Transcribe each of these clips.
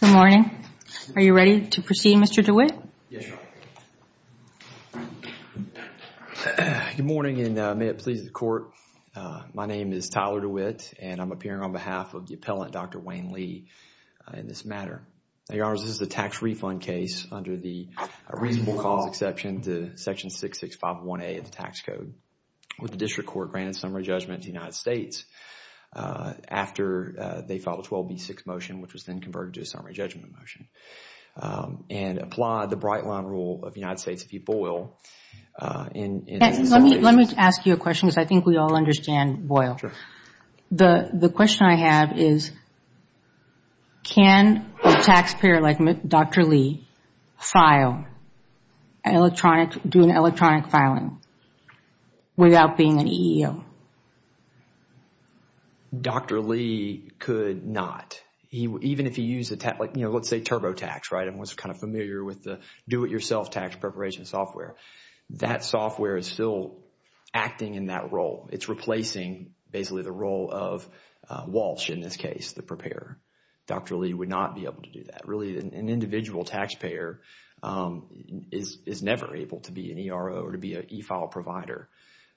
Good morning. Are you ready to proceed, Mr. DeWitt? Yes, Your Honor. Good morning, and may it please the Court. My name is Tyler DeWitt, and I'm appearing on behalf of the appellant, Dr. Wayne Lee, in this matter. Now, Your Honor, this is a tax refund case under the reasonable cause exception to section 6651A of the tax code, where the district court granted summary judgment to the United States after they filed a 12B6 motion, which was then converted to a summary judgment motion, and applied the bright-line rule of the United States, if you boil, in some cases. Let me ask you a question, because I think we all understand boil. The question I have is, can a taxpayer like Dr. Lee do an electronic filing without being an EEO? Dr. Lee could not. Even if he used, let's say, TurboTax, right, and was kind of familiar with the do-it-yourself tax preparation software. That software is still acting in that role. It's replacing, basically, the role of Walsh, in this case, the preparer. Dr. Lee would not be able to do that. Really, an individual taxpayer is never able to be an ERO or to be an e-file provider.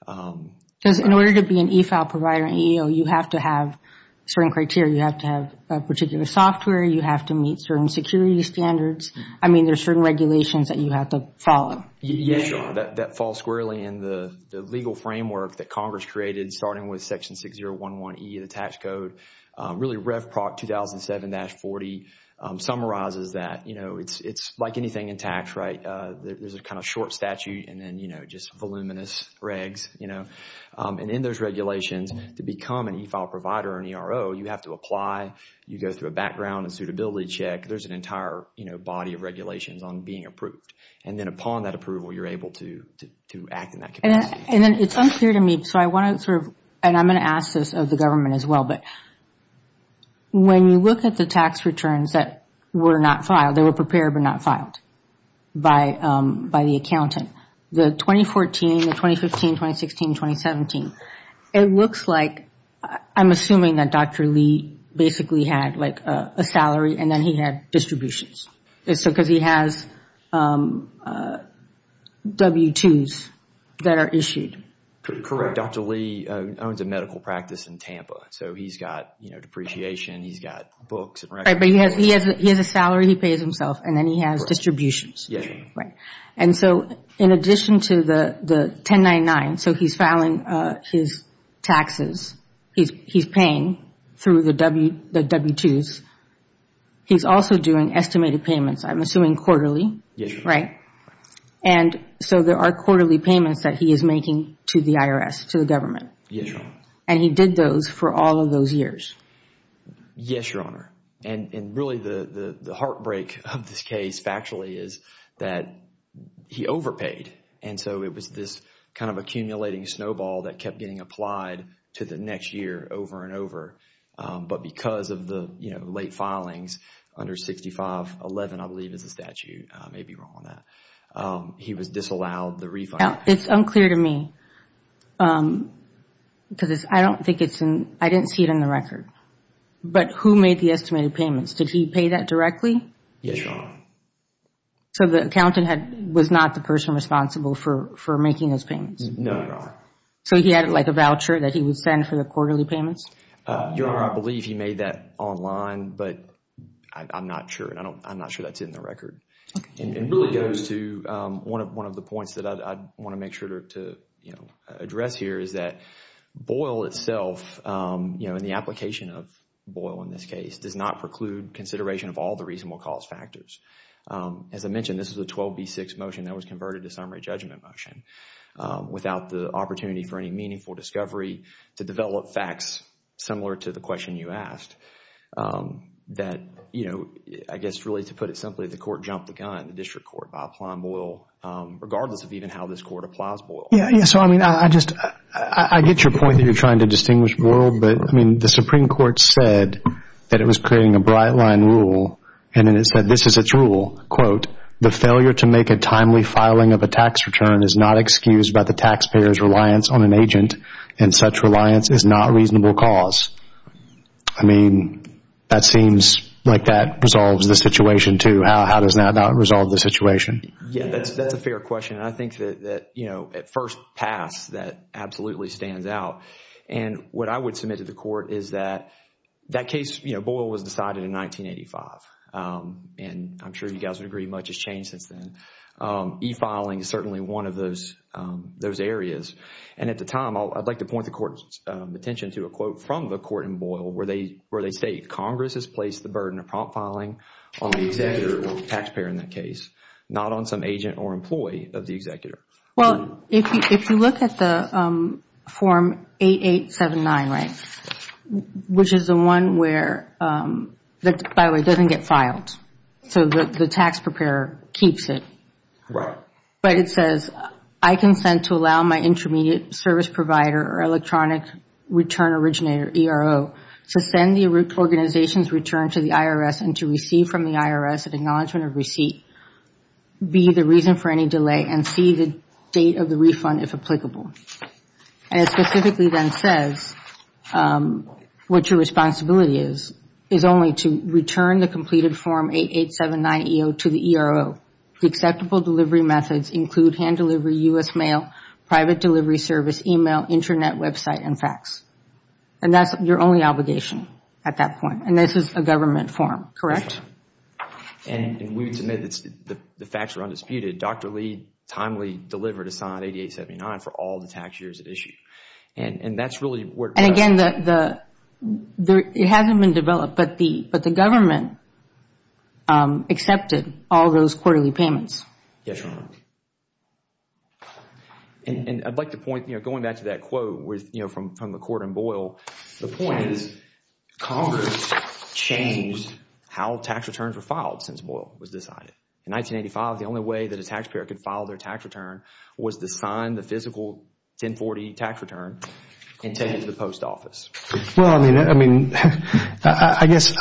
Because in order to be an e-file provider, an EEO, you have to have certain criteria. You have to have a particular software. You have to meet certain security standards. I mean, there's certain regulations that you have to follow. Yes, Your Honor. That falls squarely in the legal framework that Congress created, starting with Section 6011E of the tax code. Really, Rev. Proc. 2007-40 summarizes that. It's like anything in tax, right? There's a kind of short statute and then just voluminous regs. In those regulations, to become an e-file provider or an ERO, you have to apply. You go through a background and suitability check. There's an entire body of regulations on being approved. Then upon that approval, you're able to act in that capacity. It's unclear to me. I'm going to ask this of the government as well. But when you look at the tax returns that were not filed, they were prepared but not filed by the accountant, the 2014, the 2015, 2016, 2017, it looks like I'm assuming that Dr. Lee basically had a salary and then he had distributions. Because he has W-2s that are issued. Correct. Dr. Lee owns a medical practice in Tampa. He's got depreciation. He's got books. Right. But he has a salary. He pays himself. Then he has distributions. Yes. Right. In addition to the 1099, so he's filing his taxes. He's paying through the W-2s. He's also doing estimated payments, I'm assuming quarterly. Yes, Your Honor. Right. There are quarterly payments that he is making to the IRS, to the government. Yes, Your Honor. He did those for all of those years. Yes, Your Honor. Really, the heartbreak of this case factually is that he overpaid. It was this accumulating snowball that kept getting applied to the next year over and late filings under 6511, I believe is the statute. I may be wrong on that. He was disallowed the refund. It's unclear to me because I didn't see it in the record. But who made the estimated payments? Did he pay that directly? Yes, Your Honor. The accountant was not the person responsible for making those payments? No, Your Honor. He had a voucher that he would send for the quarterly payments? Your Honor, I believe he made that online, but I'm not sure. I'm not sure that's in the record. It really goes to one of the points that I want to make sure to address here is that Boyle itself, in the application of Boyle in this case, does not preclude consideration of all the reasonable cause factors. As I mentioned, this is a 12B6 motion that was converted to summary judgment motion without the opportunity for any meaningful discovery to develop facts similar to the question you asked. I guess really to put it simply, the court jumped the gun, the district court, by applying Boyle regardless of even how this court applies Boyle. Yes. I get your point that you're trying to distinguish Boyle, but the Supreme Court said that it was creating a bright line rule and it said this is its rule, quote, the failure to make a timely filing of a tax return is not excused by the taxpayer's reliance on an agent and such reliance is not a reasonable cause. I mean, that seems like that resolves the situation too. How does that not resolve the situation? That's a fair question. I think that at first pass, that absolutely stands out. What I would submit to the court is that that case, Boyle was decided in 1985. I'm sure you guys would agree much has changed since then. E-filing is certainly one of those areas. At the time, I'd like to point the court's attention to a quote from the court in Boyle where they state, Congress has placed the burden of prompt filing on the executor or taxpayer in that case, not on some agent or employee of the executor. Well, if you look at the form 8879, right, which is the one where, by the way, it doesn't get filed, so the tax preparer keeps it. Right. But it says, I consent to allow my intermediate service provider or electronic return originator, ERO, to send the organization's return to the IRS and to receive from the IRS an acknowledgement of receipt, B, the reason for any delay, and C, the date of the refund, if applicable. And it specifically then says what your responsibility is, is only to return the completed form 8879 EO to the ERO. The acceptable delivery methods include hand delivery, U.S. mail, private delivery service, e-mail, Internet website, and fax. And that's your only obligation at that point. And this is a government form, correct? Yes, ma'am. And we would submit that the facts are undisputed. Dr. Lee timely delivered a signed 8879 for all the tax years at issue. And that's really where it comes from. And, again, it hasn't been developed, but the government accepted all those quarterly payments. Yes, ma'am. And I'd like to point, going back to that quote from McCord and Boyle, the point is Congress changed how tax returns were filed since Boyle was decided. In 1985, the only way that a taxpayer could file their tax return was to sign the physical 1040 tax return and take it to the post office. Well, I mean, I guess,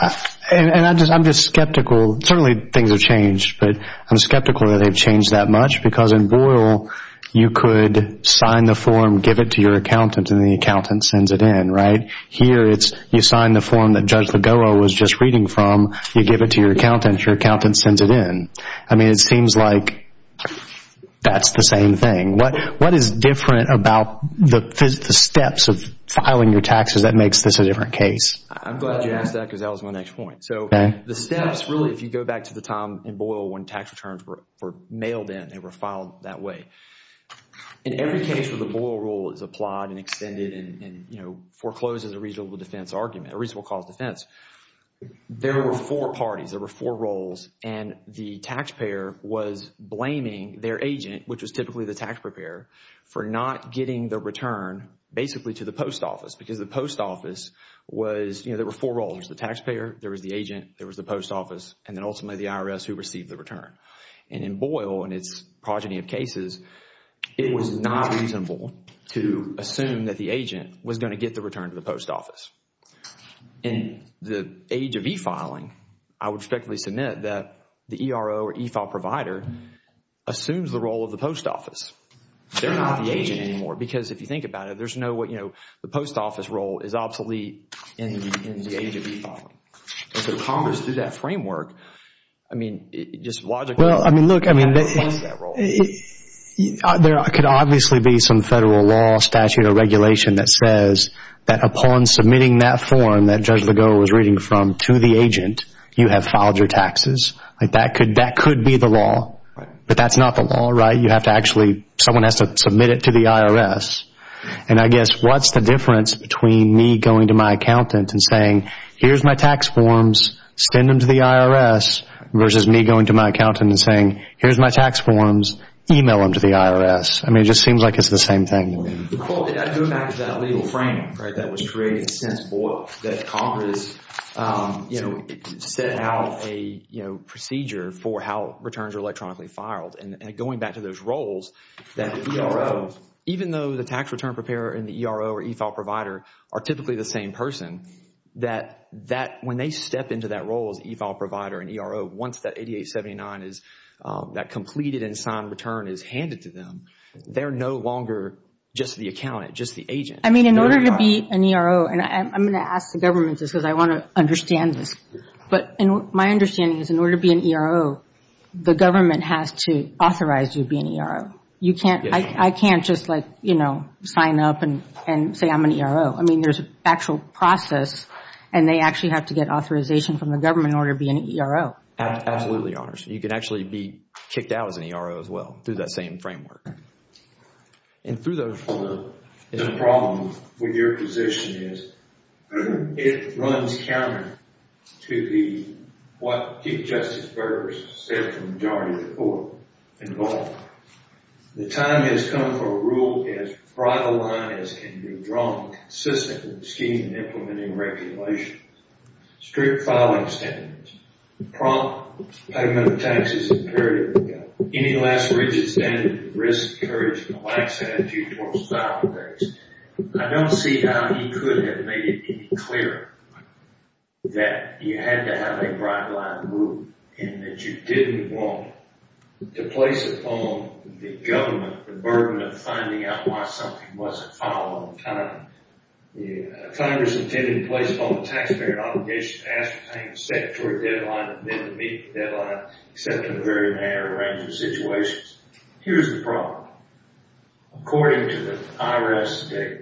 and I'm just skeptical. Certainly things have changed, but I'm skeptical that they've changed that much because in Boyle you could sign the form, give it to your accountant, and the accountant sends it in, right? Here it's you sign the form that Judge Legoro was just reading from, you give it to your accountant, your accountant sends it in. I mean, it seems like that's the same thing. What is different about the steps of filing your taxes that makes this a different case? I'm glad you asked that because that was my next point. So the steps, really, if you go back to the time in Boyle when tax returns were mailed in, they were filed that way. In every case where the Boyle rule is applied and extended and, you know, forecloses a reasonable defense argument, a reasonable cause defense, there were four parties, there were four roles, and the taxpayer was blaming their agent, which was typically the taxpayer, for not getting the return basically to the post office because the post office was, you know, there were four roles. There was the taxpayer, there was the agent, there was the post office, and then ultimately the IRS who received the return. And in Boyle and its progeny of cases, it was not reasonable to assume that the agent was going to get the return to the post office. In the age of e-filing, I would respectfully submit that the ERO or e-file provider assumes the role of the post office. They're not the agent anymore because if you think about it, there's no, you know, the post office role is obsolete in the age of e-filing. If Congress did that framework, I mean, it just logically would replace that role. Well, I mean, look, I mean, there could obviously be some federal law, statute, or regulation that says that upon submitting that form that Judge Legault was reading from to the agent, you have filed your taxes. Like that could be the law. But that's not the law, right? You have to actually, someone has to submit it to the IRS. And I guess what's the difference between me going to my accountant and saying, here's my tax forms, send them to the IRS, versus me going to my accountant and saying, here's my tax forms, email them to the IRS. I mean, it just seems like it's the same thing. Well, going back to that legal frame, right, that was created since, that Congress, you know, set out a, you know, procedure for how returns are electronically filed. And going back to those roles that the ERO, even though the tax return preparer and the ERO or e-file provider are typically the same person, that when they step into that role as an e-file provider and ERO, once that 8879 is, that completed and signed return is handed to them, they're no longer just the accountant, just the agent. I mean, in order to be an ERO, and I'm going to ask the government this because I want to understand this. But my understanding is in order to be an ERO, the government has to authorize you to be an ERO. You can't, I can't just like, you know, sign up and say I'm an ERO. I mean, there's an actual process and they actually have to get authorization from the government in order to be an ERO. Absolutely, Your Honors. You can actually be kicked out as an ERO as well through that same framework. And through those... The problem with your position is it runs counter to the, what Chief Justice Burr said to the majority of the court involved. The time has come for a rule as bright a line as can be drawn consistently in the scheme of implementing regulations. Strict filing standards. Prompt payment of taxes is imperative. Any last rigid standard of risk, courage, and a lax attitude towards filing varies. I don't see how he could have made it any clearer that you had to have a bright line rule and that you didn't want to place upon the government the burden of finding out why something wasn't filed on time. Congress intended to place upon the taxpayer an obligation to ascertain the statutory deadline and then to meet the deadline, except in a very narrow range of situations. Here's the problem. According to the IRS data,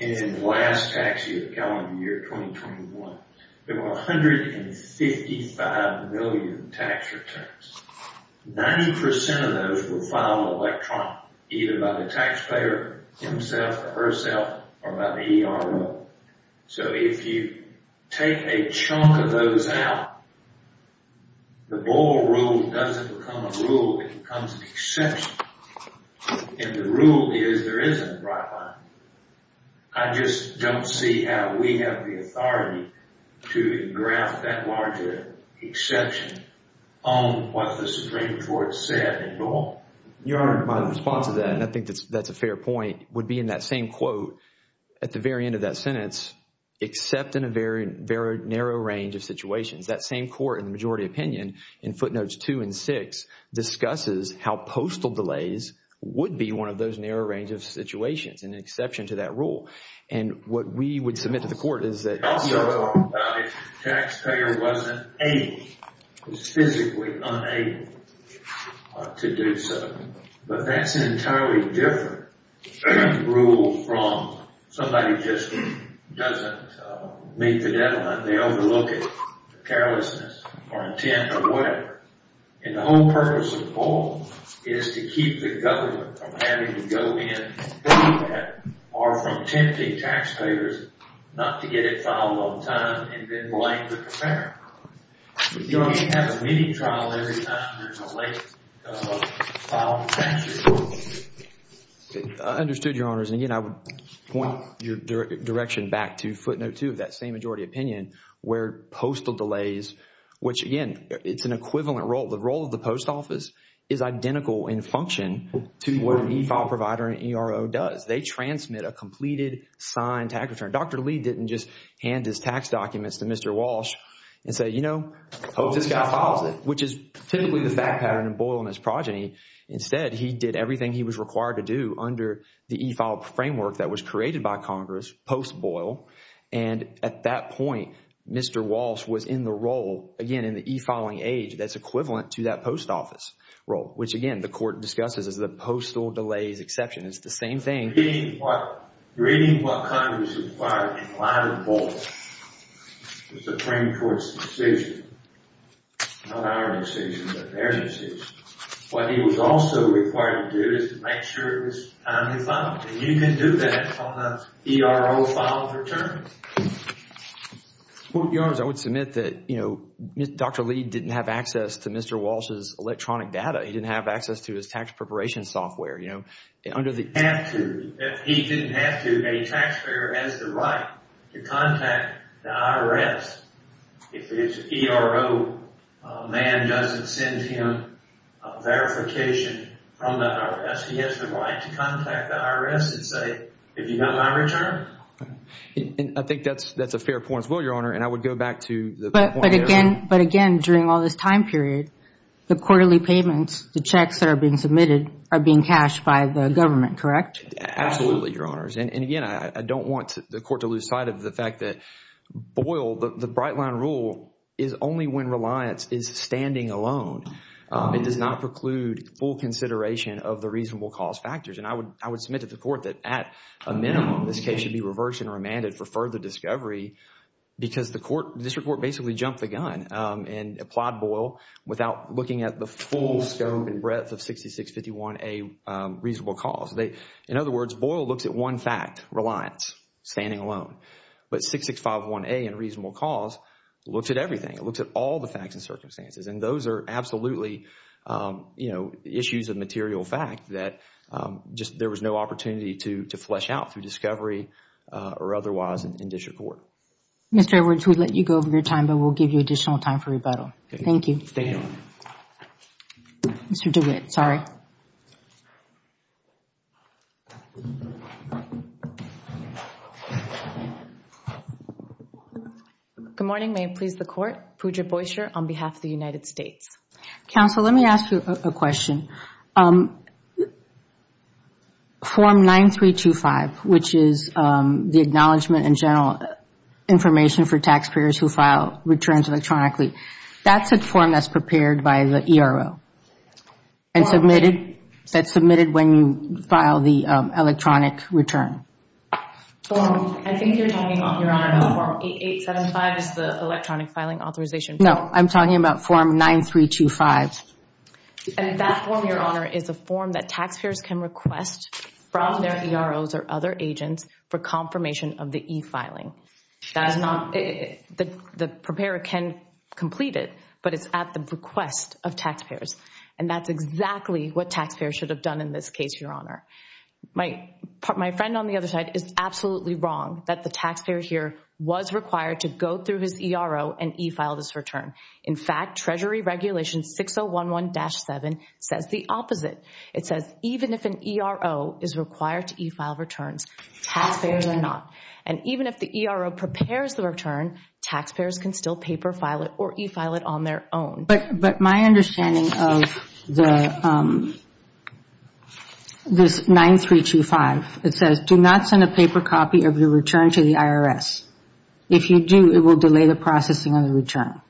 in the last tax year, 2021, there were 155 million tax returns. 90% of those were filed electronically, either by the taxpayer himself or herself, or by the ERO. So if you take a chunk of those out, the Boyle rule doesn't become a rule. It becomes an exception. And the rule is there is a bright line. I just don't see how we have the authority to draft that larger exception on what the Supreme Court said at all. Your Honor, my response to that, and I think that's a fair point, would be in that same quote at the very end of that sentence, except in a very narrow range of situations. That same court, in the majority opinion, in footnotes two and six, discusses how postal delays would be one of those narrow range of situations. It's an exception to that rule. And what we would submit to the court is that... Also, the taxpayer wasn't able, was physically unable to do so. But that's an entirely different rule from somebody just doesn't meet the deadline. They overlook it, carelessness, or intent, or whatever. And the whole purpose of the court is to keep the government from having to go in and pay that, or from tempting taxpayers not to get it filed on time and then blame the comparator. You don't need to have a meeting trial every time there's a late filing of taxes. I understood, Your Honors. And again, I would point your direction back to footnote two of that same majority opinion where postal delays, which again, it's an equivalent role. The role of the post office is identical in function to what an e-file provider and ERO does. They transmit a completed signed tax return. Dr. Lee didn't just hand his tax documents to Mr. Walsh and say, you know, hope this guy files it, which is typically the fact pattern in Boyle and his progeny. Instead, he did everything he was required to do under the e-file framework that was created by Congress, post Boyle, and at that point, Mr. Walsh was in the role, again, in the e-filing age that's equivalent to that post office role, which again, the court discusses as the postal delays exception. It's the same thing. Reading what Congress required in line with Boyle was the Supreme Court's decision, not our decision, but their decision. What he was also required to do is to make sure it was timely filed. You can do that on an ERO filed return. Your Honor, I would submit that, you know, Dr. Lee didn't have access to Mr. Walsh's electronic data. He didn't have access to his tax preparation software, you know. He didn't have to. A taxpayer has the right to contact the IRS. If it's ERO, a man doesn't send him a verification from the IRS. He has the right to contact the IRS and say, have you got my return? I think that's a fair point as well, Your Honor, and I would go back to the point earlier. But again, during all this time period, the quarterly payments, the checks that are being submitted, are being cashed by the government, correct? Absolutely, Your Honors. And again, I don't want the court to lose sight of the fact that Boyle, the bright line rule is only when reliance is standing alone. It does not preclude full consideration of the reasonable cause factors. And I would submit to the court that at a minimum, this case should be reversed and remanded for further discovery because the district court basically jumped the gun and applied Boyle without looking at the full scope and breadth of 6651A reasonable cause. In other words, Boyle looks at one fact, reliance, standing alone. But 6651A in reasonable cause looks at everything. It looks at all the facts and circumstances. And those are absolutely, you know, issues of material fact that just there was no opportunity to flesh out through discovery or otherwise in district court. Mr. Edwards, we'll let you go over your time, but we'll give you additional time for rebuttal. Thank you. Thank you. Mr. DeWitt, sorry. Good morning. May it please the court. Pooja Boysher on behalf of the United States. Counsel, let me ask you a question. Form 9325, which is the Acknowledgement and General Information for Taxpayers Who File Returns Electronically, that's a form that's prepared by the ERO and submitted when you file the electronic return. I think you're talking, Your Honor, about Form 8875, the electronic filing authorization form. No, I'm talking about Form 9325. And that form, Your Honor, is a form that taxpayers can request from their EROs or other agents for confirmation of the e-filing. The preparer can complete it, but it's at the request of taxpayers. And that's exactly what taxpayers should have done in this case, Your Honor. My friend on the other side is absolutely wrong that the taxpayer here was required to go through his ERO and e-file this return. In fact, Treasury Regulation 6011-7 says the opposite. It says even if an ERO is required to e-file returns, taxpayers are not. And even if the ERO prepares the return, taxpayers can still paper file it or e-file it on their own. But my understanding of this 9325, it says do not send a paper copy of your return to the IRS. If you do, it will delay the processing of the return.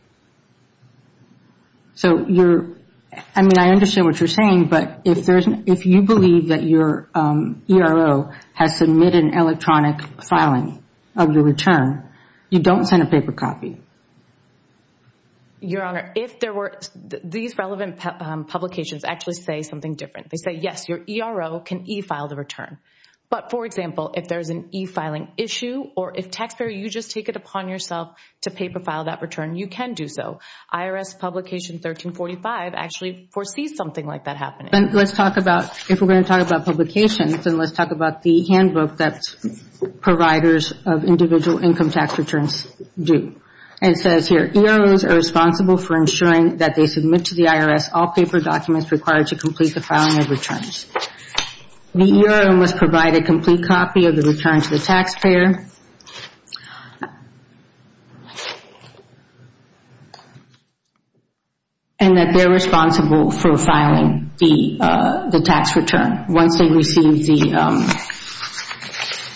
I mean, I understand what you're saying, but if you believe that your ERO has submitted an electronic filing of your return, you don't send a paper copy. Your Honor, these relevant publications actually say something different. They say, yes, your ERO can e-file the return. But, for example, if there's an e-filing issue or if, taxpayer, you just take it upon yourself to paper file that return, you can do so. IRS Publication 1345 actually foresees something like that happening. Let's talk about, if we're going to talk about publications, then let's talk about the handbook that providers of individual income tax returns do. It says here, EROs are responsible for ensuring that they submit to the IRS all paper documents required to complete the filing of returns. The ERO must provide a complete copy of the return to the taxpayer. And that they're responsible for filing the tax return once they receive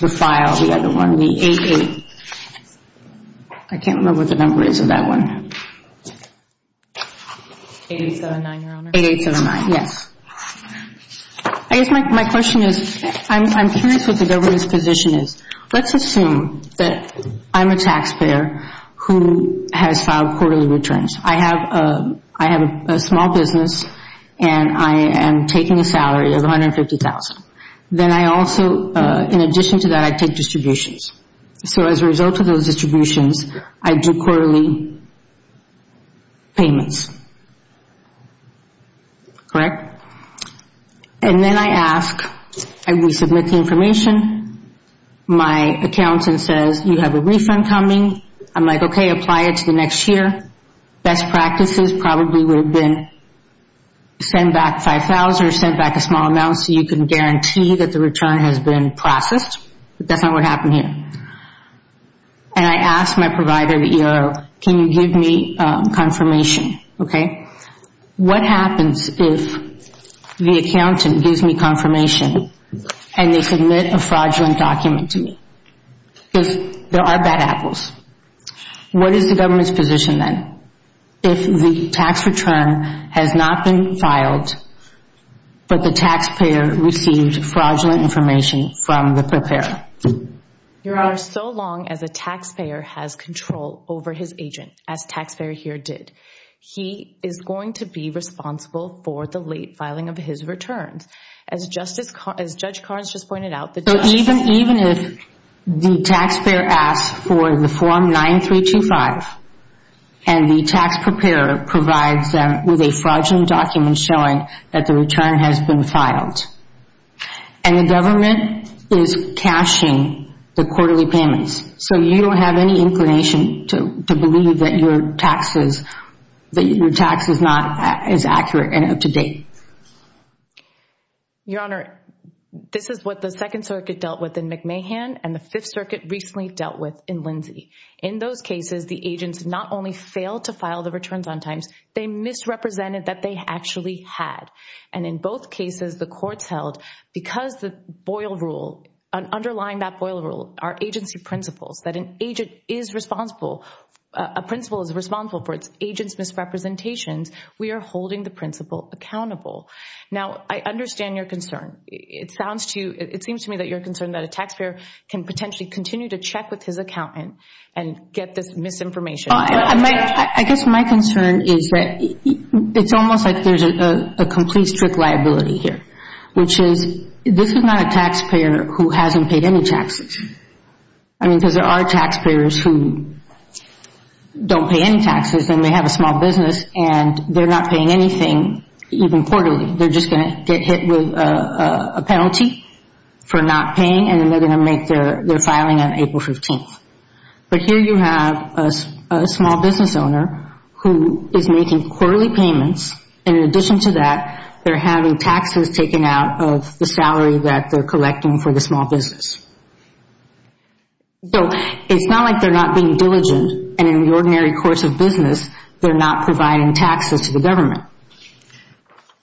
the file, the other one, the 8-8. I can't remember what the number is of that one. 8-8-7-9, your Honor. 8-8-7-9, yes. I guess my question is, I'm curious what the government's position is. Let's assume that I'm a taxpayer who has filed quarterly returns. I have a small business and I am taking a salary of $150,000. Then I also, in addition to that, I take distributions. So, as a result of those distributions, I do quarterly payments. Correct? And then I ask, I resubmit the information. My accountant says, you have a refund coming. I'm like, okay, apply it to the next year. Best practices probably would have been send back $5,000 or send back a small amount so you can guarantee that the return has been processed. But that's not what happened here. And I ask my provider, the ERO, can you give me confirmation? What happens if the accountant gives me confirmation and they submit a fraudulent document to me? Because there are bad apples. What is the government's position then? If the tax return has not been filed, but the taxpayer received fraudulent information from the preparer? Your Honor, so long as a taxpayer has control over his agent, as the taxpayer here did, he is going to be responsible for the late filing of his returns. As Judge Karnes just pointed out. Even if the taxpayer asks for the Form 9325 and the tax preparer provides them with a fraudulent document showing that the return has been filed, and the government is cashing the quarterly payments, so you don't have any inclination to believe that your tax is not as accurate and up to date. Your Honor, this is what the Second Circuit dealt with in McMahon and the Fifth Circuit recently dealt with in Lindsay. In those cases, the agents not only failed to file the returns on times, they misrepresented that they actually had. And in both cases, the courts held, because the boil rule, underlying that boil rule are agency principles, that an agent is responsible, a principle is responsible for its agent's misrepresentations, we are holding the principle accountable. Now, I understand your concern. It seems to me that you're concerned that a taxpayer can potentially continue to check with his accountant and get this misinformation. I guess my concern is that it's almost like there's a complete strict liability here, which is this is not a taxpayer who hasn't paid any taxes. I mean, because there are taxpayers who don't pay any taxes, and they have a small business, and they're not paying anything, even quarterly. They're just going to get hit with a penalty for not paying, and then they're going to make their filing on April 15th. But here you have a small business owner who is making quarterly payments, and in addition to that, they're having taxes taken out of the salary that they're collecting for the small business. So it's not like they're not being diligent, and in the ordinary course of business, they're not providing taxes to the government.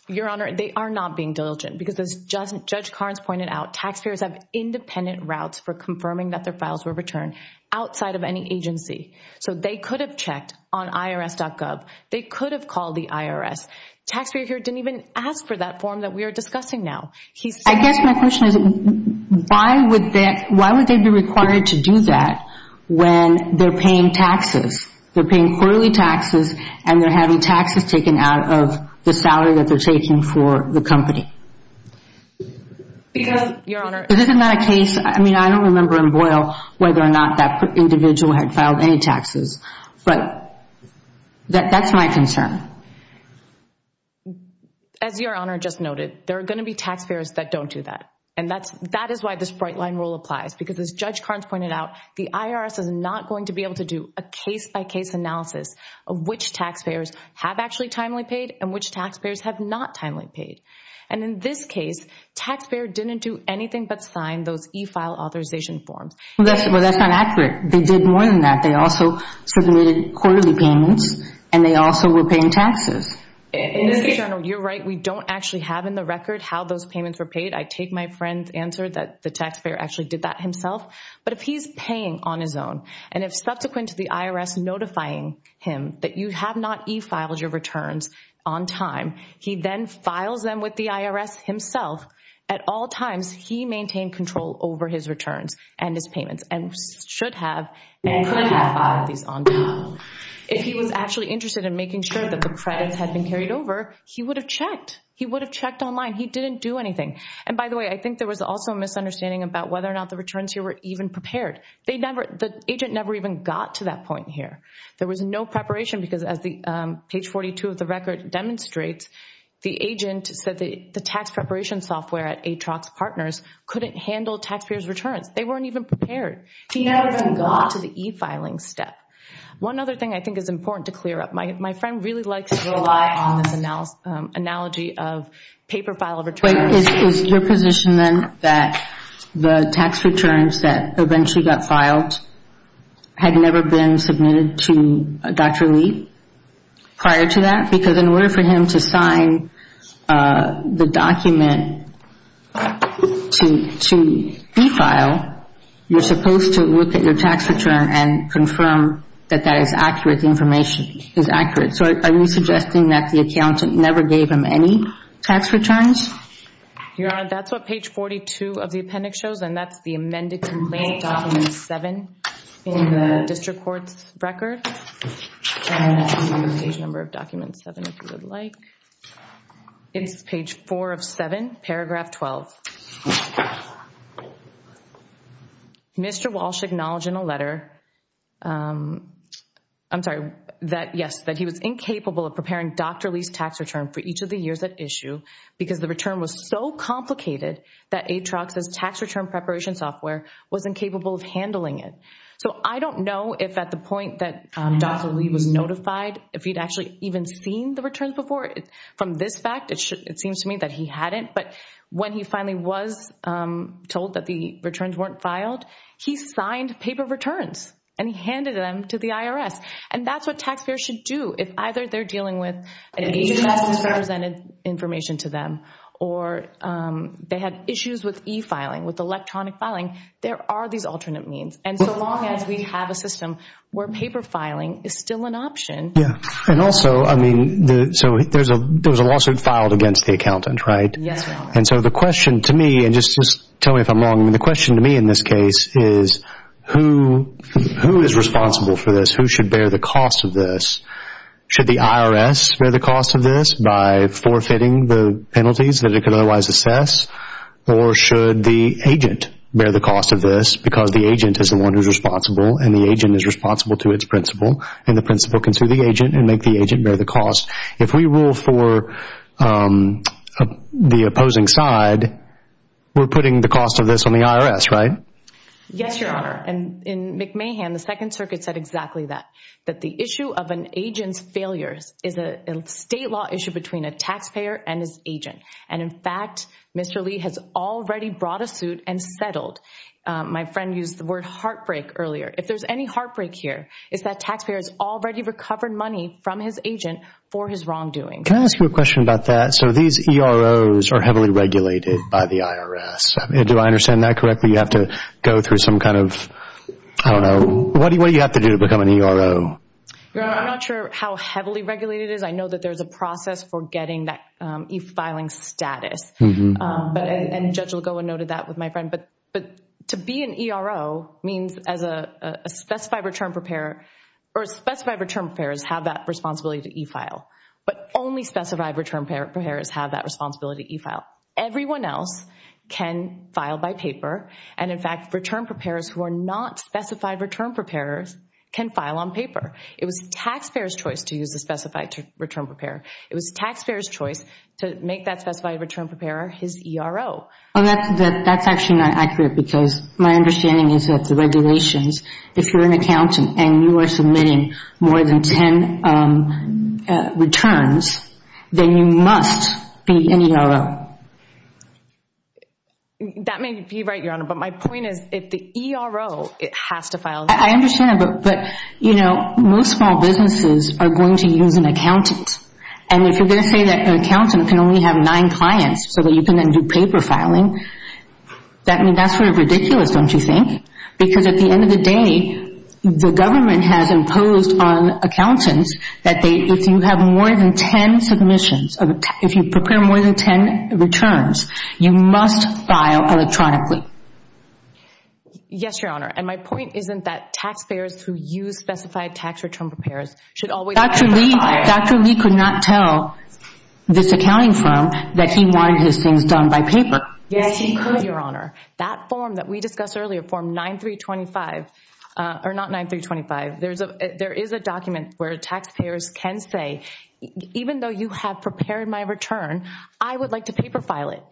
Your Honor, they are not being diligent, because as Judge Carnes pointed out, taxpayers have independent routes for confirming that their files were returned outside of any agency. So they could have checked on IRS.gov. They could have called the IRS. Taxpayer here didn't even ask for that form that we are discussing now. I guess my question is, why would they be required to do that when they're paying taxes? They're paying quarterly taxes, and they're having taxes taken out of the salary that they're taking for the company. Because, Your Honor. Isn't that a case? I mean, I don't remember in Boyle whether or not that individual had filed any taxes. But that's my concern. As Your Honor just noted, there are going to be taxpayers that don't do that. And that is why this bright line rule applies, because as Judge Carnes pointed out, the IRS is not going to be able to do a case-by-case analysis of which taxpayers have actually timely paid and which taxpayers have not timely paid. And in this case, taxpayer didn't do anything but sign those e-file authorization forms. Well, that's not accurate. They did more than that. They also submitted quarterly payments, and they also were paying taxes. Mr. General, you're right. We don't actually have in the record how those payments were paid. I take my friend's answer that the taxpayer actually did that himself. But if he's paying on his own, and if subsequent to the IRS notifying him that you have not e-filed your returns on time, he then files them with the IRS himself, at all times he maintained control over his returns and his payments and should have and couldn't have filed these on time. If he was actually interested in making sure that the credits had been carried over, he would have checked. He would have checked online. He didn't do anything. And by the way, I think there was also a misunderstanding about whether or not the returns here were even prepared. The agent never even got to that point here. There was no preparation, because as page 42 of the record demonstrates, the agent said the tax preparation software at Atrox Partners couldn't handle taxpayers' returns. They weren't even prepared. He never even got to the e-filing step. One other thing I think is important to clear up. My friend really likes to rely on this analogy of paper file returns. Is your position then that the tax returns that eventually got filed had never been submitted to Dr. Lee prior to that? Because in order for him to sign the document to e-file, you're supposed to look at your tax return and confirm that that is accurate, the information is accurate. So are you suggesting that the accountant never gave him any tax returns? Your Honor, that's what page 42 of the appendix shows, and that's the amended complaint document 7 in the district court's record. Page number of document 7, if you would like. It's page 4 of 7, paragraph 12. Mr. Walsh acknowledged in a letter, I'm sorry, that, yes, that he was incapable of preparing Dr. Lee's tax return for each of the years at issue because the return was so complicated that Atrox's tax return preparation software was incapable of handling it. So I don't know if at the point that Dr. Lee was notified, if he'd actually even seen the returns before. From this fact, it seems to me that he hadn't, but when he finally was told that the returns weren't filed, he signed paper returns and he handed them to the IRS. And that's what taxpayers should do. If either they're dealing with an agency that has presented information to them or they have issues with e-filing, with electronic filing, there are these alternate means. And so long as we have a system where paper filing is still an option. Yeah. And also, I mean, so there's a lawsuit filed against the accountant, right? Yes, ma'am. And so the question to me, and just tell me if I'm wrong, the question to me in this case is who is responsible for this? Who should bear the cost of this? Should the IRS bear the cost of this by forfeiting the penalties that it could otherwise assess, or should the agent bear the cost of this because the agent is the one who's responsible and the agent is responsible to its principal and the principal can sue the agent and make the agent bear the cost? If we rule for the opposing side, we're putting the cost of this on the IRS, right? Yes, Your Honor. And in McMahon, the Second Circuit said exactly that, that the issue of an agent's failures is a state law issue between a taxpayer and his agent. And in fact, Mr. Lee has already brought a suit and settled. My friend used the word heartbreak earlier. If there's any heartbreak here, it's that taxpayer has already recovered money from his agent for his wrongdoing. Can I ask you a question about that? So these EROs are heavily regulated by the IRS. Do I understand that correctly? You have to go through some kind of, I don't know, what do you have to do to become an ERO? Your Honor, I'm not sure how heavily regulated it is. I know that there's a process for getting that e-filing status. And Judge Lagoa noted that with my friend. But to be an ERO means as a specified return preparer, or specified return preparers have that responsibility to e-file, but only specified return preparers have that responsibility to e-file. Everyone else can file by paper. And in fact, return preparers who are not specified return preparers can file on paper. It was the taxpayer's choice to use the specified return preparer. It was the taxpayer's choice to make that specified return preparer his ERO. That's actually not accurate because my understanding is that the regulations, if you're an accountant and you are submitting more than 10 returns, then you must be an ERO. That may be right, Your Honor. But my point is if the ERO has to file. I understand. But, you know, most small businesses are going to use an accountant. And if you're going to say that an accountant can only have nine clients so that you can then do paper filing, that's sort of ridiculous, don't you think? Because at the end of the day, the government has imposed on accountants that if you have more than 10 submissions, if you prepare more than 10 returns, you must file electronically. Yes, Your Honor. And my point isn't that taxpayers who use specified tax return preparers should always Dr. Lee could not tell this accounting firm that he wanted his things done by paper. Yes, he could, Your Honor. That form that we discussed earlier, form 9325, or not 9325, there is a document where taxpayers can say, even though you have prepared my return, I would like to paper file it.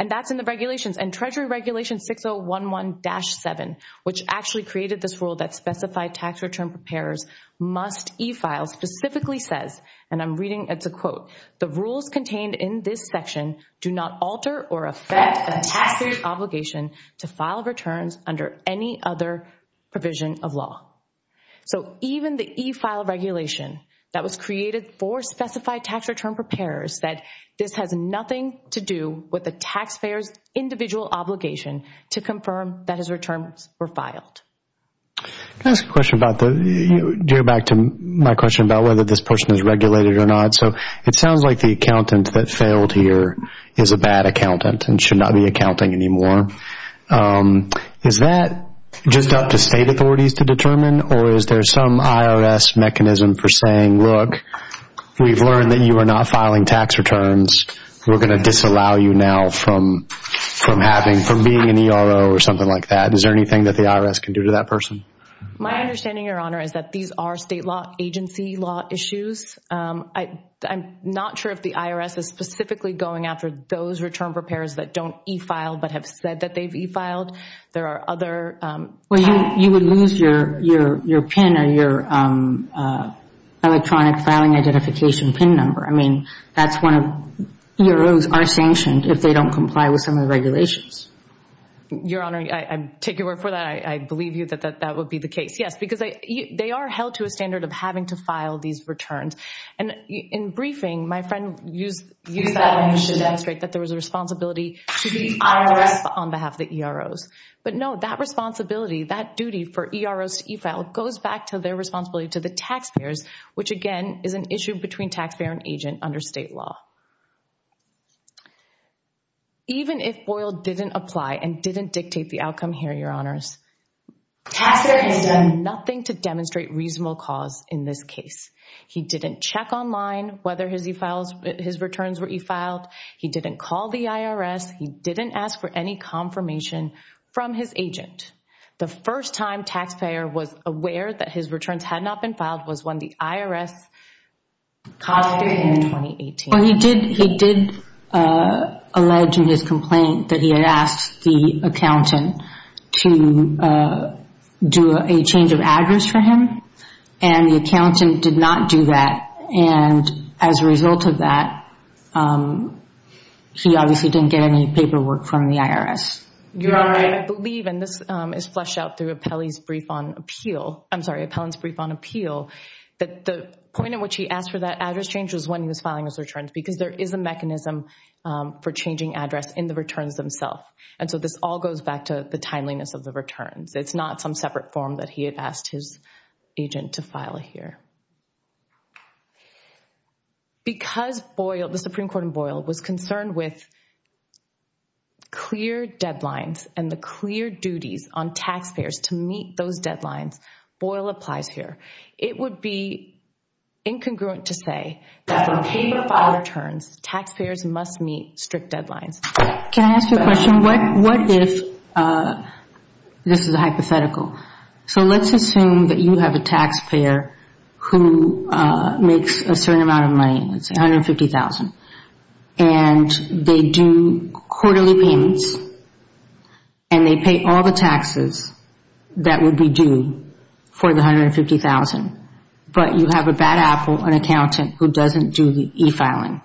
And that's in the regulations. And Treasury Regulation 6011-7, which actually created this rule that specified tax return preparers must e-file, specifically says, and I'm reading, it's a quote, the rules contained in this section do not alter or affect the taxpayer's obligation to file returns under any other provision of law. So even the e-file regulation that was created for specified tax return preparers said this has nothing to do with the taxpayer's individual obligation to confirm that his returns were filed. Can I ask a question about the – do you go back to my question about whether this person is regulated or not? So it sounds like the accountant that failed here is a bad accountant and should not be accounting anymore. Is that just up to state authorities to determine, or is there some IRS mechanism for saying, look, we've learned that you are not filing tax returns, we're going to disallow you now from being an ERO or something like that? Is there anything that the IRS can do to that person? My understanding, Your Honor, is that these are state law, agency law issues. I'm not sure if the IRS is specifically going after those return preparers that don't e-file but have said that they've e-filed. Well, you would lose your PIN or your electronic filing identification PIN number. I mean, EROs are sanctioned if they don't comply with some of the regulations. Your Honor, I take your word for that. I believe that that would be the case, yes, because they are held to a standard of having to file these returns. And in briefing, my friend used that to demonstrate that there was a responsibility to the IRS on behalf of the EROs. But, no, that responsibility, that duty for EROs to e-file, goes back to their responsibility to the taxpayers, which, again, is an issue between taxpayer and agent under state law. Even if Boyle didn't apply and didn't dictate the outcome here, Your Honors, taxpayer has done nothing to demonstrate reasonable cause in this case. He didn't check online whether his returns were e-filed. He didn't call the IRS. He didn't ask for any confirmation from his agent. The first time taxpayer was aware that his returns had not been filed was when the IRS cost him in 2018. Well, he did allege in his complaint that he had asked the accountant to do a change of address for him, and the accountant did not do that. And as a result of that, he obviously didn't get any paperwork from the IRS. Your Honor, I believe, and this is fleshed out through Appellant's Brief on Appeal, that the point at which he asked for that address change was when he was filing his returns, because there is a mechanism for changing address in the returns themselves. And so this all goes back to the timeliness of the returns. It's not some separate form that he had asked his agent to file here. Because Boyle, the Supreme Court in Boyle, was concerned with clear deadlines and the clear duties on taxpayers to meet those deadlines, Boyle applies here. It would be incongruent to say that on paper file returns, taxpayers must meet strict deadlines. Can I ask you a question? What if, this is a hypothetical, so let's assume that you have a taxpayer who makes a certain amount of money, let's say $150,000, and they do quarterly payments, and they pay all the taxes that would be due for the $150,000, but you have a bad apple, an accountant, who doesn't do the e-filing,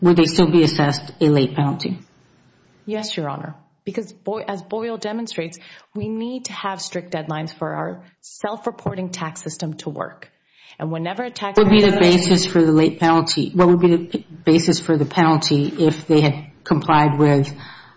would they still be assessed a late penalty? Yes, Your Honor. Because as Boyle demonstrates, we need to have strict deadlines for our self-reporting tax system to work. And whenever a taxpayer doesn't… What would be the basis for the late penalty? What would be the basis for the penalty if they had complied with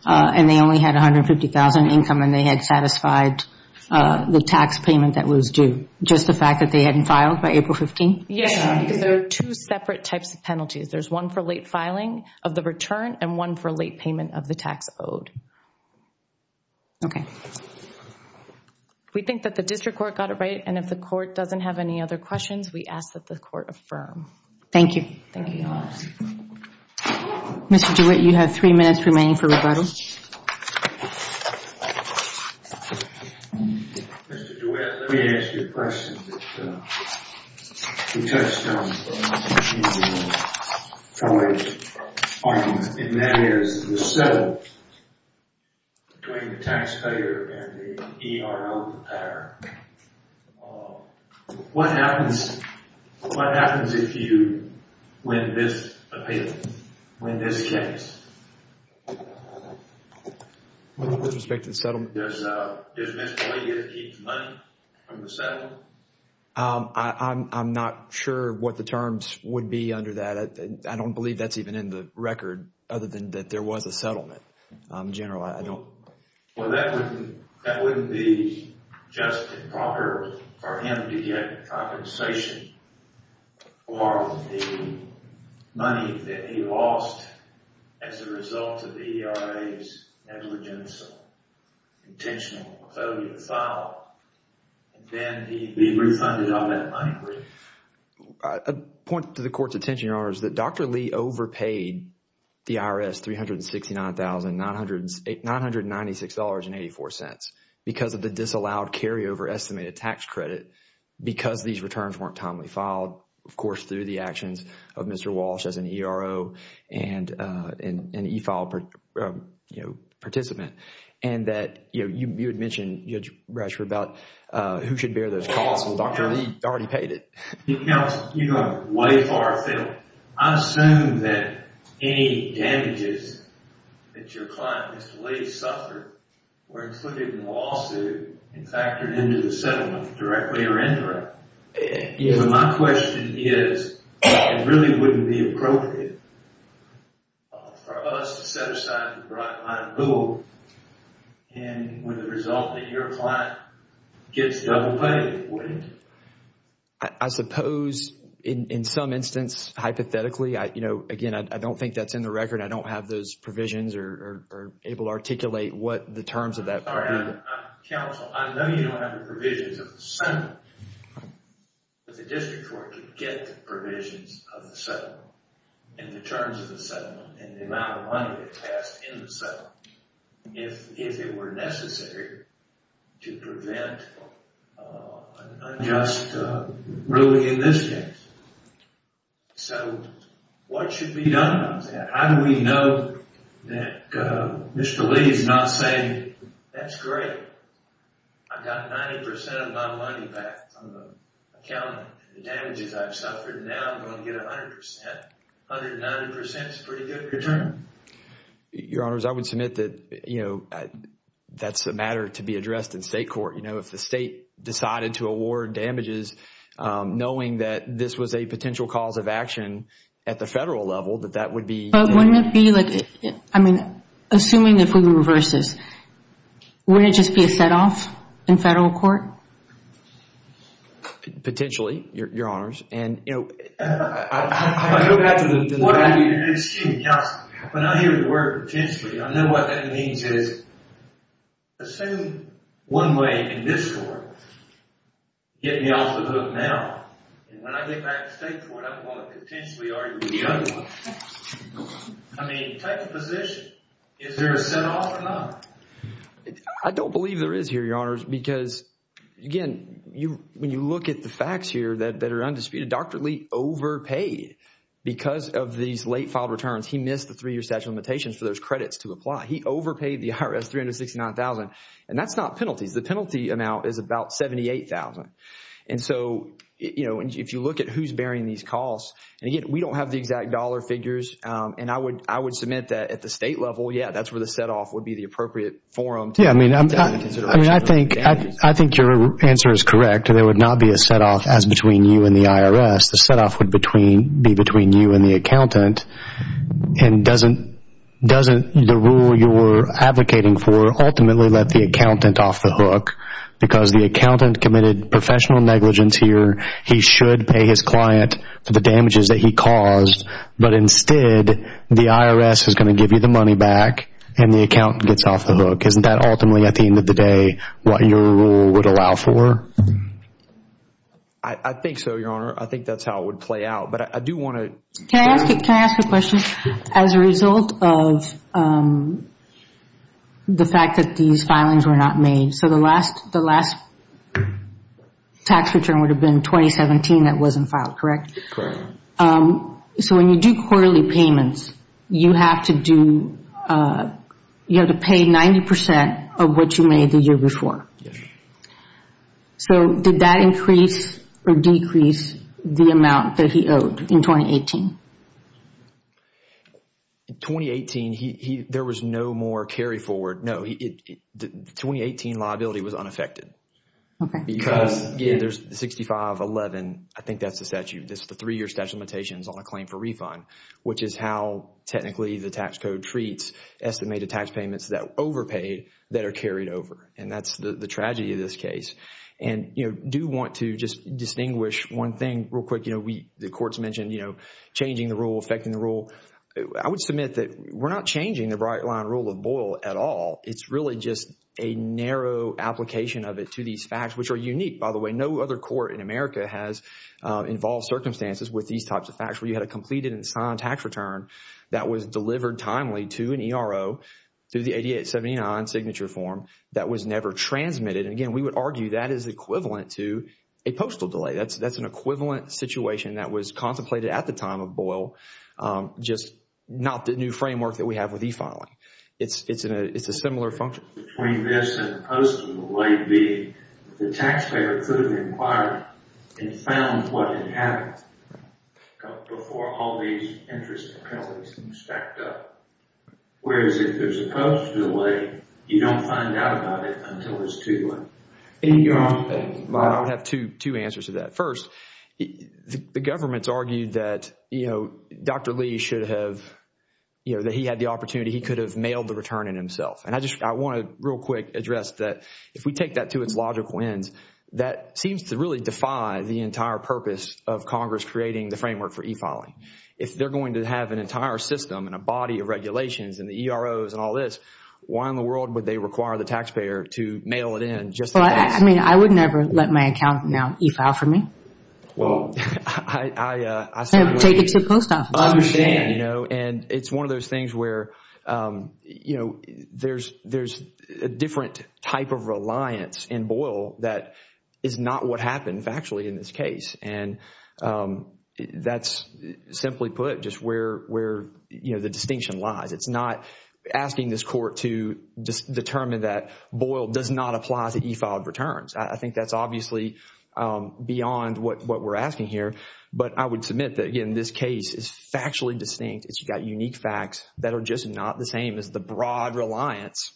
and they only had $150,000 income and they had satisfied the tax payment that was due, just the fact that they hadn't filed by April 15th? Yes, because there are two separate types of penalties. There's one for late filing of the return and one for late payment of the tax owed. Okay. We think that the district court got it right, and if the court doesn't have any other questions, we ask that the court affirm. Thank you. Thank you, Your Honor. Mr. DeWitt, you have three minutes remaining for rebuttal. Mr. DeWitt, let me ask you a question. You touched on the issue of wage arguments, and that is the settle between the taxpayer and the ERO repair. What happens if you win this case? With respect to the settlement? Does Ms. Boyd get to keep the money from the settlement? I'm not sure what the terms would be under that. I don't believe that's even in the record, other than that there was a settlement. General, I don't… Well, that wouldn't be just improper for him to get compensation for the money that he lost as a result of the ERA's negligence of intentional failure to file, and then he'd be refunded on that money. that Dr. Lee overpaid the IRS $369,996.84 because of the disallowed carryover estimated tax credit because these returns weren't timely filed, of course, through the actions of Mr. Walsh as an ERO and an e-file participant, and that you had mentioned, Judge Bradshaw, about who should bear those costs. Well, Dr. Lee already paid it. Counsel, you go way far afield. I assume that any damages that your client, Mr. Lee, suffered were included in the lawsuit and factored into the settlement directly or indirectly. My question is, it really wouldn't be appropriate for us to set aside the bright line rule and with the result that your client gets double pay, would it? I suppose, in some instance, hypothetically, again, I don't think that's in the record. I don't have those provisions or able to articulate what the terms of that would be. Counsel, I know you don't have the provisions of the settlement, but the district court could get the provisions of the settlement and the terms of the settlement and the amount of money that passed in the settlement if it were necessary to prevent an unjust ruling in this case. So, what should be done about that? How do we know that Mr. Lee is not saying, that's great, I got 90% of my money back from the accountant. The damages I've suffered, now I'm going to get 100%. 190% is a pretty good return. Your Honors, I would submit that, you know, that's a matter to be addressed in state court. You know, if the state decided to award damages, knowing that this was a potential cause of action at the federal level, that that would be. But wouldn't it be like, I mean, assuming if we reverse this, wouldn't it just be a set off in federal court? Potentially, Your Honors. Excuse me, when I hear the word potentially, I know what that means is, assume one way in this court, get me off the hook now, and when I get back to state court, I'm going to potentially argue with the other one. I mean, take a position. Is there a set off or not? I don't believe there is here, Your Honors, because, again, when you look at the facts here that are undisputed, Dr. Lee overpaid because of these late filed returns. He missed the three-year statute of limitations for those credits to apply. He overpaid the IRS $369,000, and that's not penalties. The penalty amount is about $78,000. And so, you know, if you look at who's bearing these costs, and again, we don't have the exact dollar figures, and I would submit that at the state level, yeah, that's where the set off would be the appropriate forum. Yeah, I mean, I think your answer is correct. There would not be a set off as between you and the IRS. The set off would be between you and the accountant, and doesn't the rule you're advocating for ultimately let the accountant off the hook because the accountant committed professional negligence here. He should pay his client for the damages that he caused, but instead, the IRS is going to give you the money back, and the accountant gets off the hook. Isn't that ultimately, at the end of the day, what your rule would allow for? I think so, Your Honor. I think that's how it would play out, but I do want to... Can I ask a question? As a result of the fact that these filings were not made, so the last tax return would have been 2017 that wasn't filed, correct? Correct. So when you do quarterly payments, you have to pay 90% of what you made the year before. Yes. So did that increase or decrease the amount that he owed in 2018? In 2018, there was no more carry forward. No. The 2018 liability was unaffected. Okay. Because there's 6511. I think that's the statute. This is the three-year statute of limitations on a claim for refund, which is how, technically, the tax code treats estimated tax payments that are overpaid that are carried over, and that's the tragedy of this case. And I do want to just distinguish one thing real quick. The court's mentioned changing the rule, affecting the rule. I would submit that we're not changing the bright-line rule of Boyle at all. It's really just a narrow application of it to these facts, which are unique, by the way. No other court in America has involved circumstances with these types of facts where you had a completed and signed tax return that was delivered timely to an ERO through the 8879 signature form that was never transmitted. And, again, we would argue that is equivalent to a postal delay. That's an equivalent situation that was contemplated at the time of Boyle, just not the new framework that we have with e-filing. It's a similar function. Between this and the postal delay, the taxpayer could have inquired and found what had happened before all these interests and penalties stacked up. Whereas if there's a postal delay, you don't find out about it until it's too late. I would have two answers to that. First, the government's argued that, you know, Dr. Lee should have, you know, that he had the opportunity. He could have mailed the return in himself. And I just want to real quick address that if we take that to its logical ends, that seems to really defy the entire purpose of Congress creating the framework for e-filing. If they're going to have an entire system and a body of regulations and the EROs and all this, why in the world would they require the taxpayer to mail it in just in case? Well, I mean, I would never let my accountant now e-file for me. Well, I certainly would. Take it to a post office. I understand, you know, and it's one of those things where, you know, there's a different type of reliance in Boyle that is not what happened factually in this case. And that's simply put just where, you know, the distinction lies. It's not asking this court to determine that Boyle does not apply to e-filed returns. I think that's obviously beyond what we're asking here. But I would submit that, again, this case is factually distinct. It's got unique facts that are just not the same as the broad reliance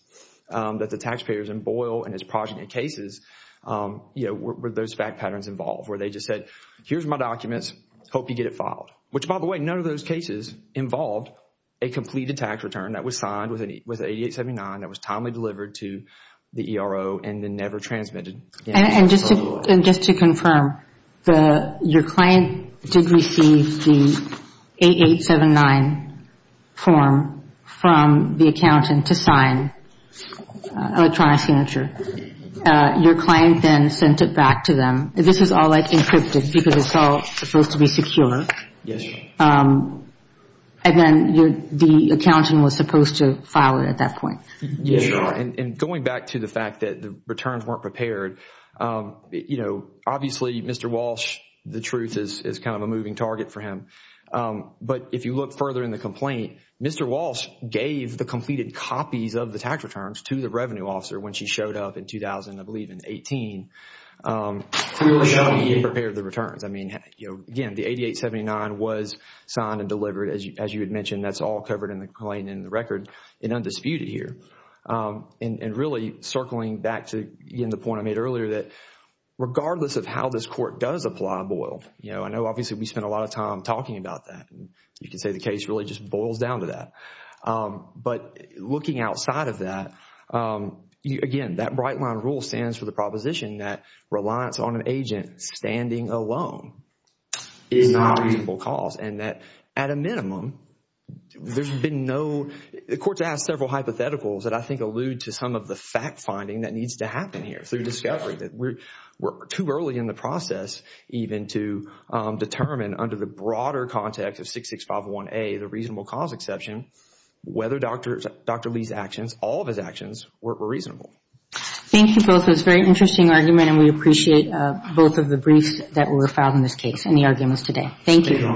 that the taxpayers in Boyle and its progeny cases, you know, were those fact patterns involved where they just said, here's my documents, hope you get it filed. Which, by the way, none of those cases involved a completed tax return that was signed with 8879 that was timely delivered to the ERO and then never transmitted. And just to confirm, your client did receive the 8879 form from the accountant to sign electronic signature. Your client then sent it back to them. This is all, like, encrypted because it's all supposed to be secure. Yes, Your Honor. And then the accountant was supposed to file it at that point. Yes, Your Honor. And going back to the fact that the returns weren't prepared, you know, obviously, Mr. Walsh, the truth is kind of a moving target for him. But if you look further in the complaint, Mr. Walsh gave the completed copies of the tax returns to the revenue officer when she showed up in 2000, I believe in 18, and prepared the returns. I mean, you know, again, the 8879 was signed and delivered. As you had mentioned, that's all covered in the complaint in the record and undisputed here. And really circling back to the point I made earlier that regardless of how this court does apply, Boyle, you know, I know obviously we spent a lot of time talking about that. You can say the case really just boils down to that. But looking outside of that, again, that bright line rule stands for the proposition that reliance on an agent standing alone is not a reasonable cause and that at a minimum, there's been no, the court has several hypotheticals that I think allude to some of the fact finding that needs to happen here through discovery. We're too early in the process even to determine under the broader context of 6651A, the reasonable cause exception, whether Dr. Lee's actions, all of his actions, were reasonable. Thank you both. It was a very interesting argument and we appreciate both of the briefs that were filed in this case and the arguments today. Thank you. Thank you.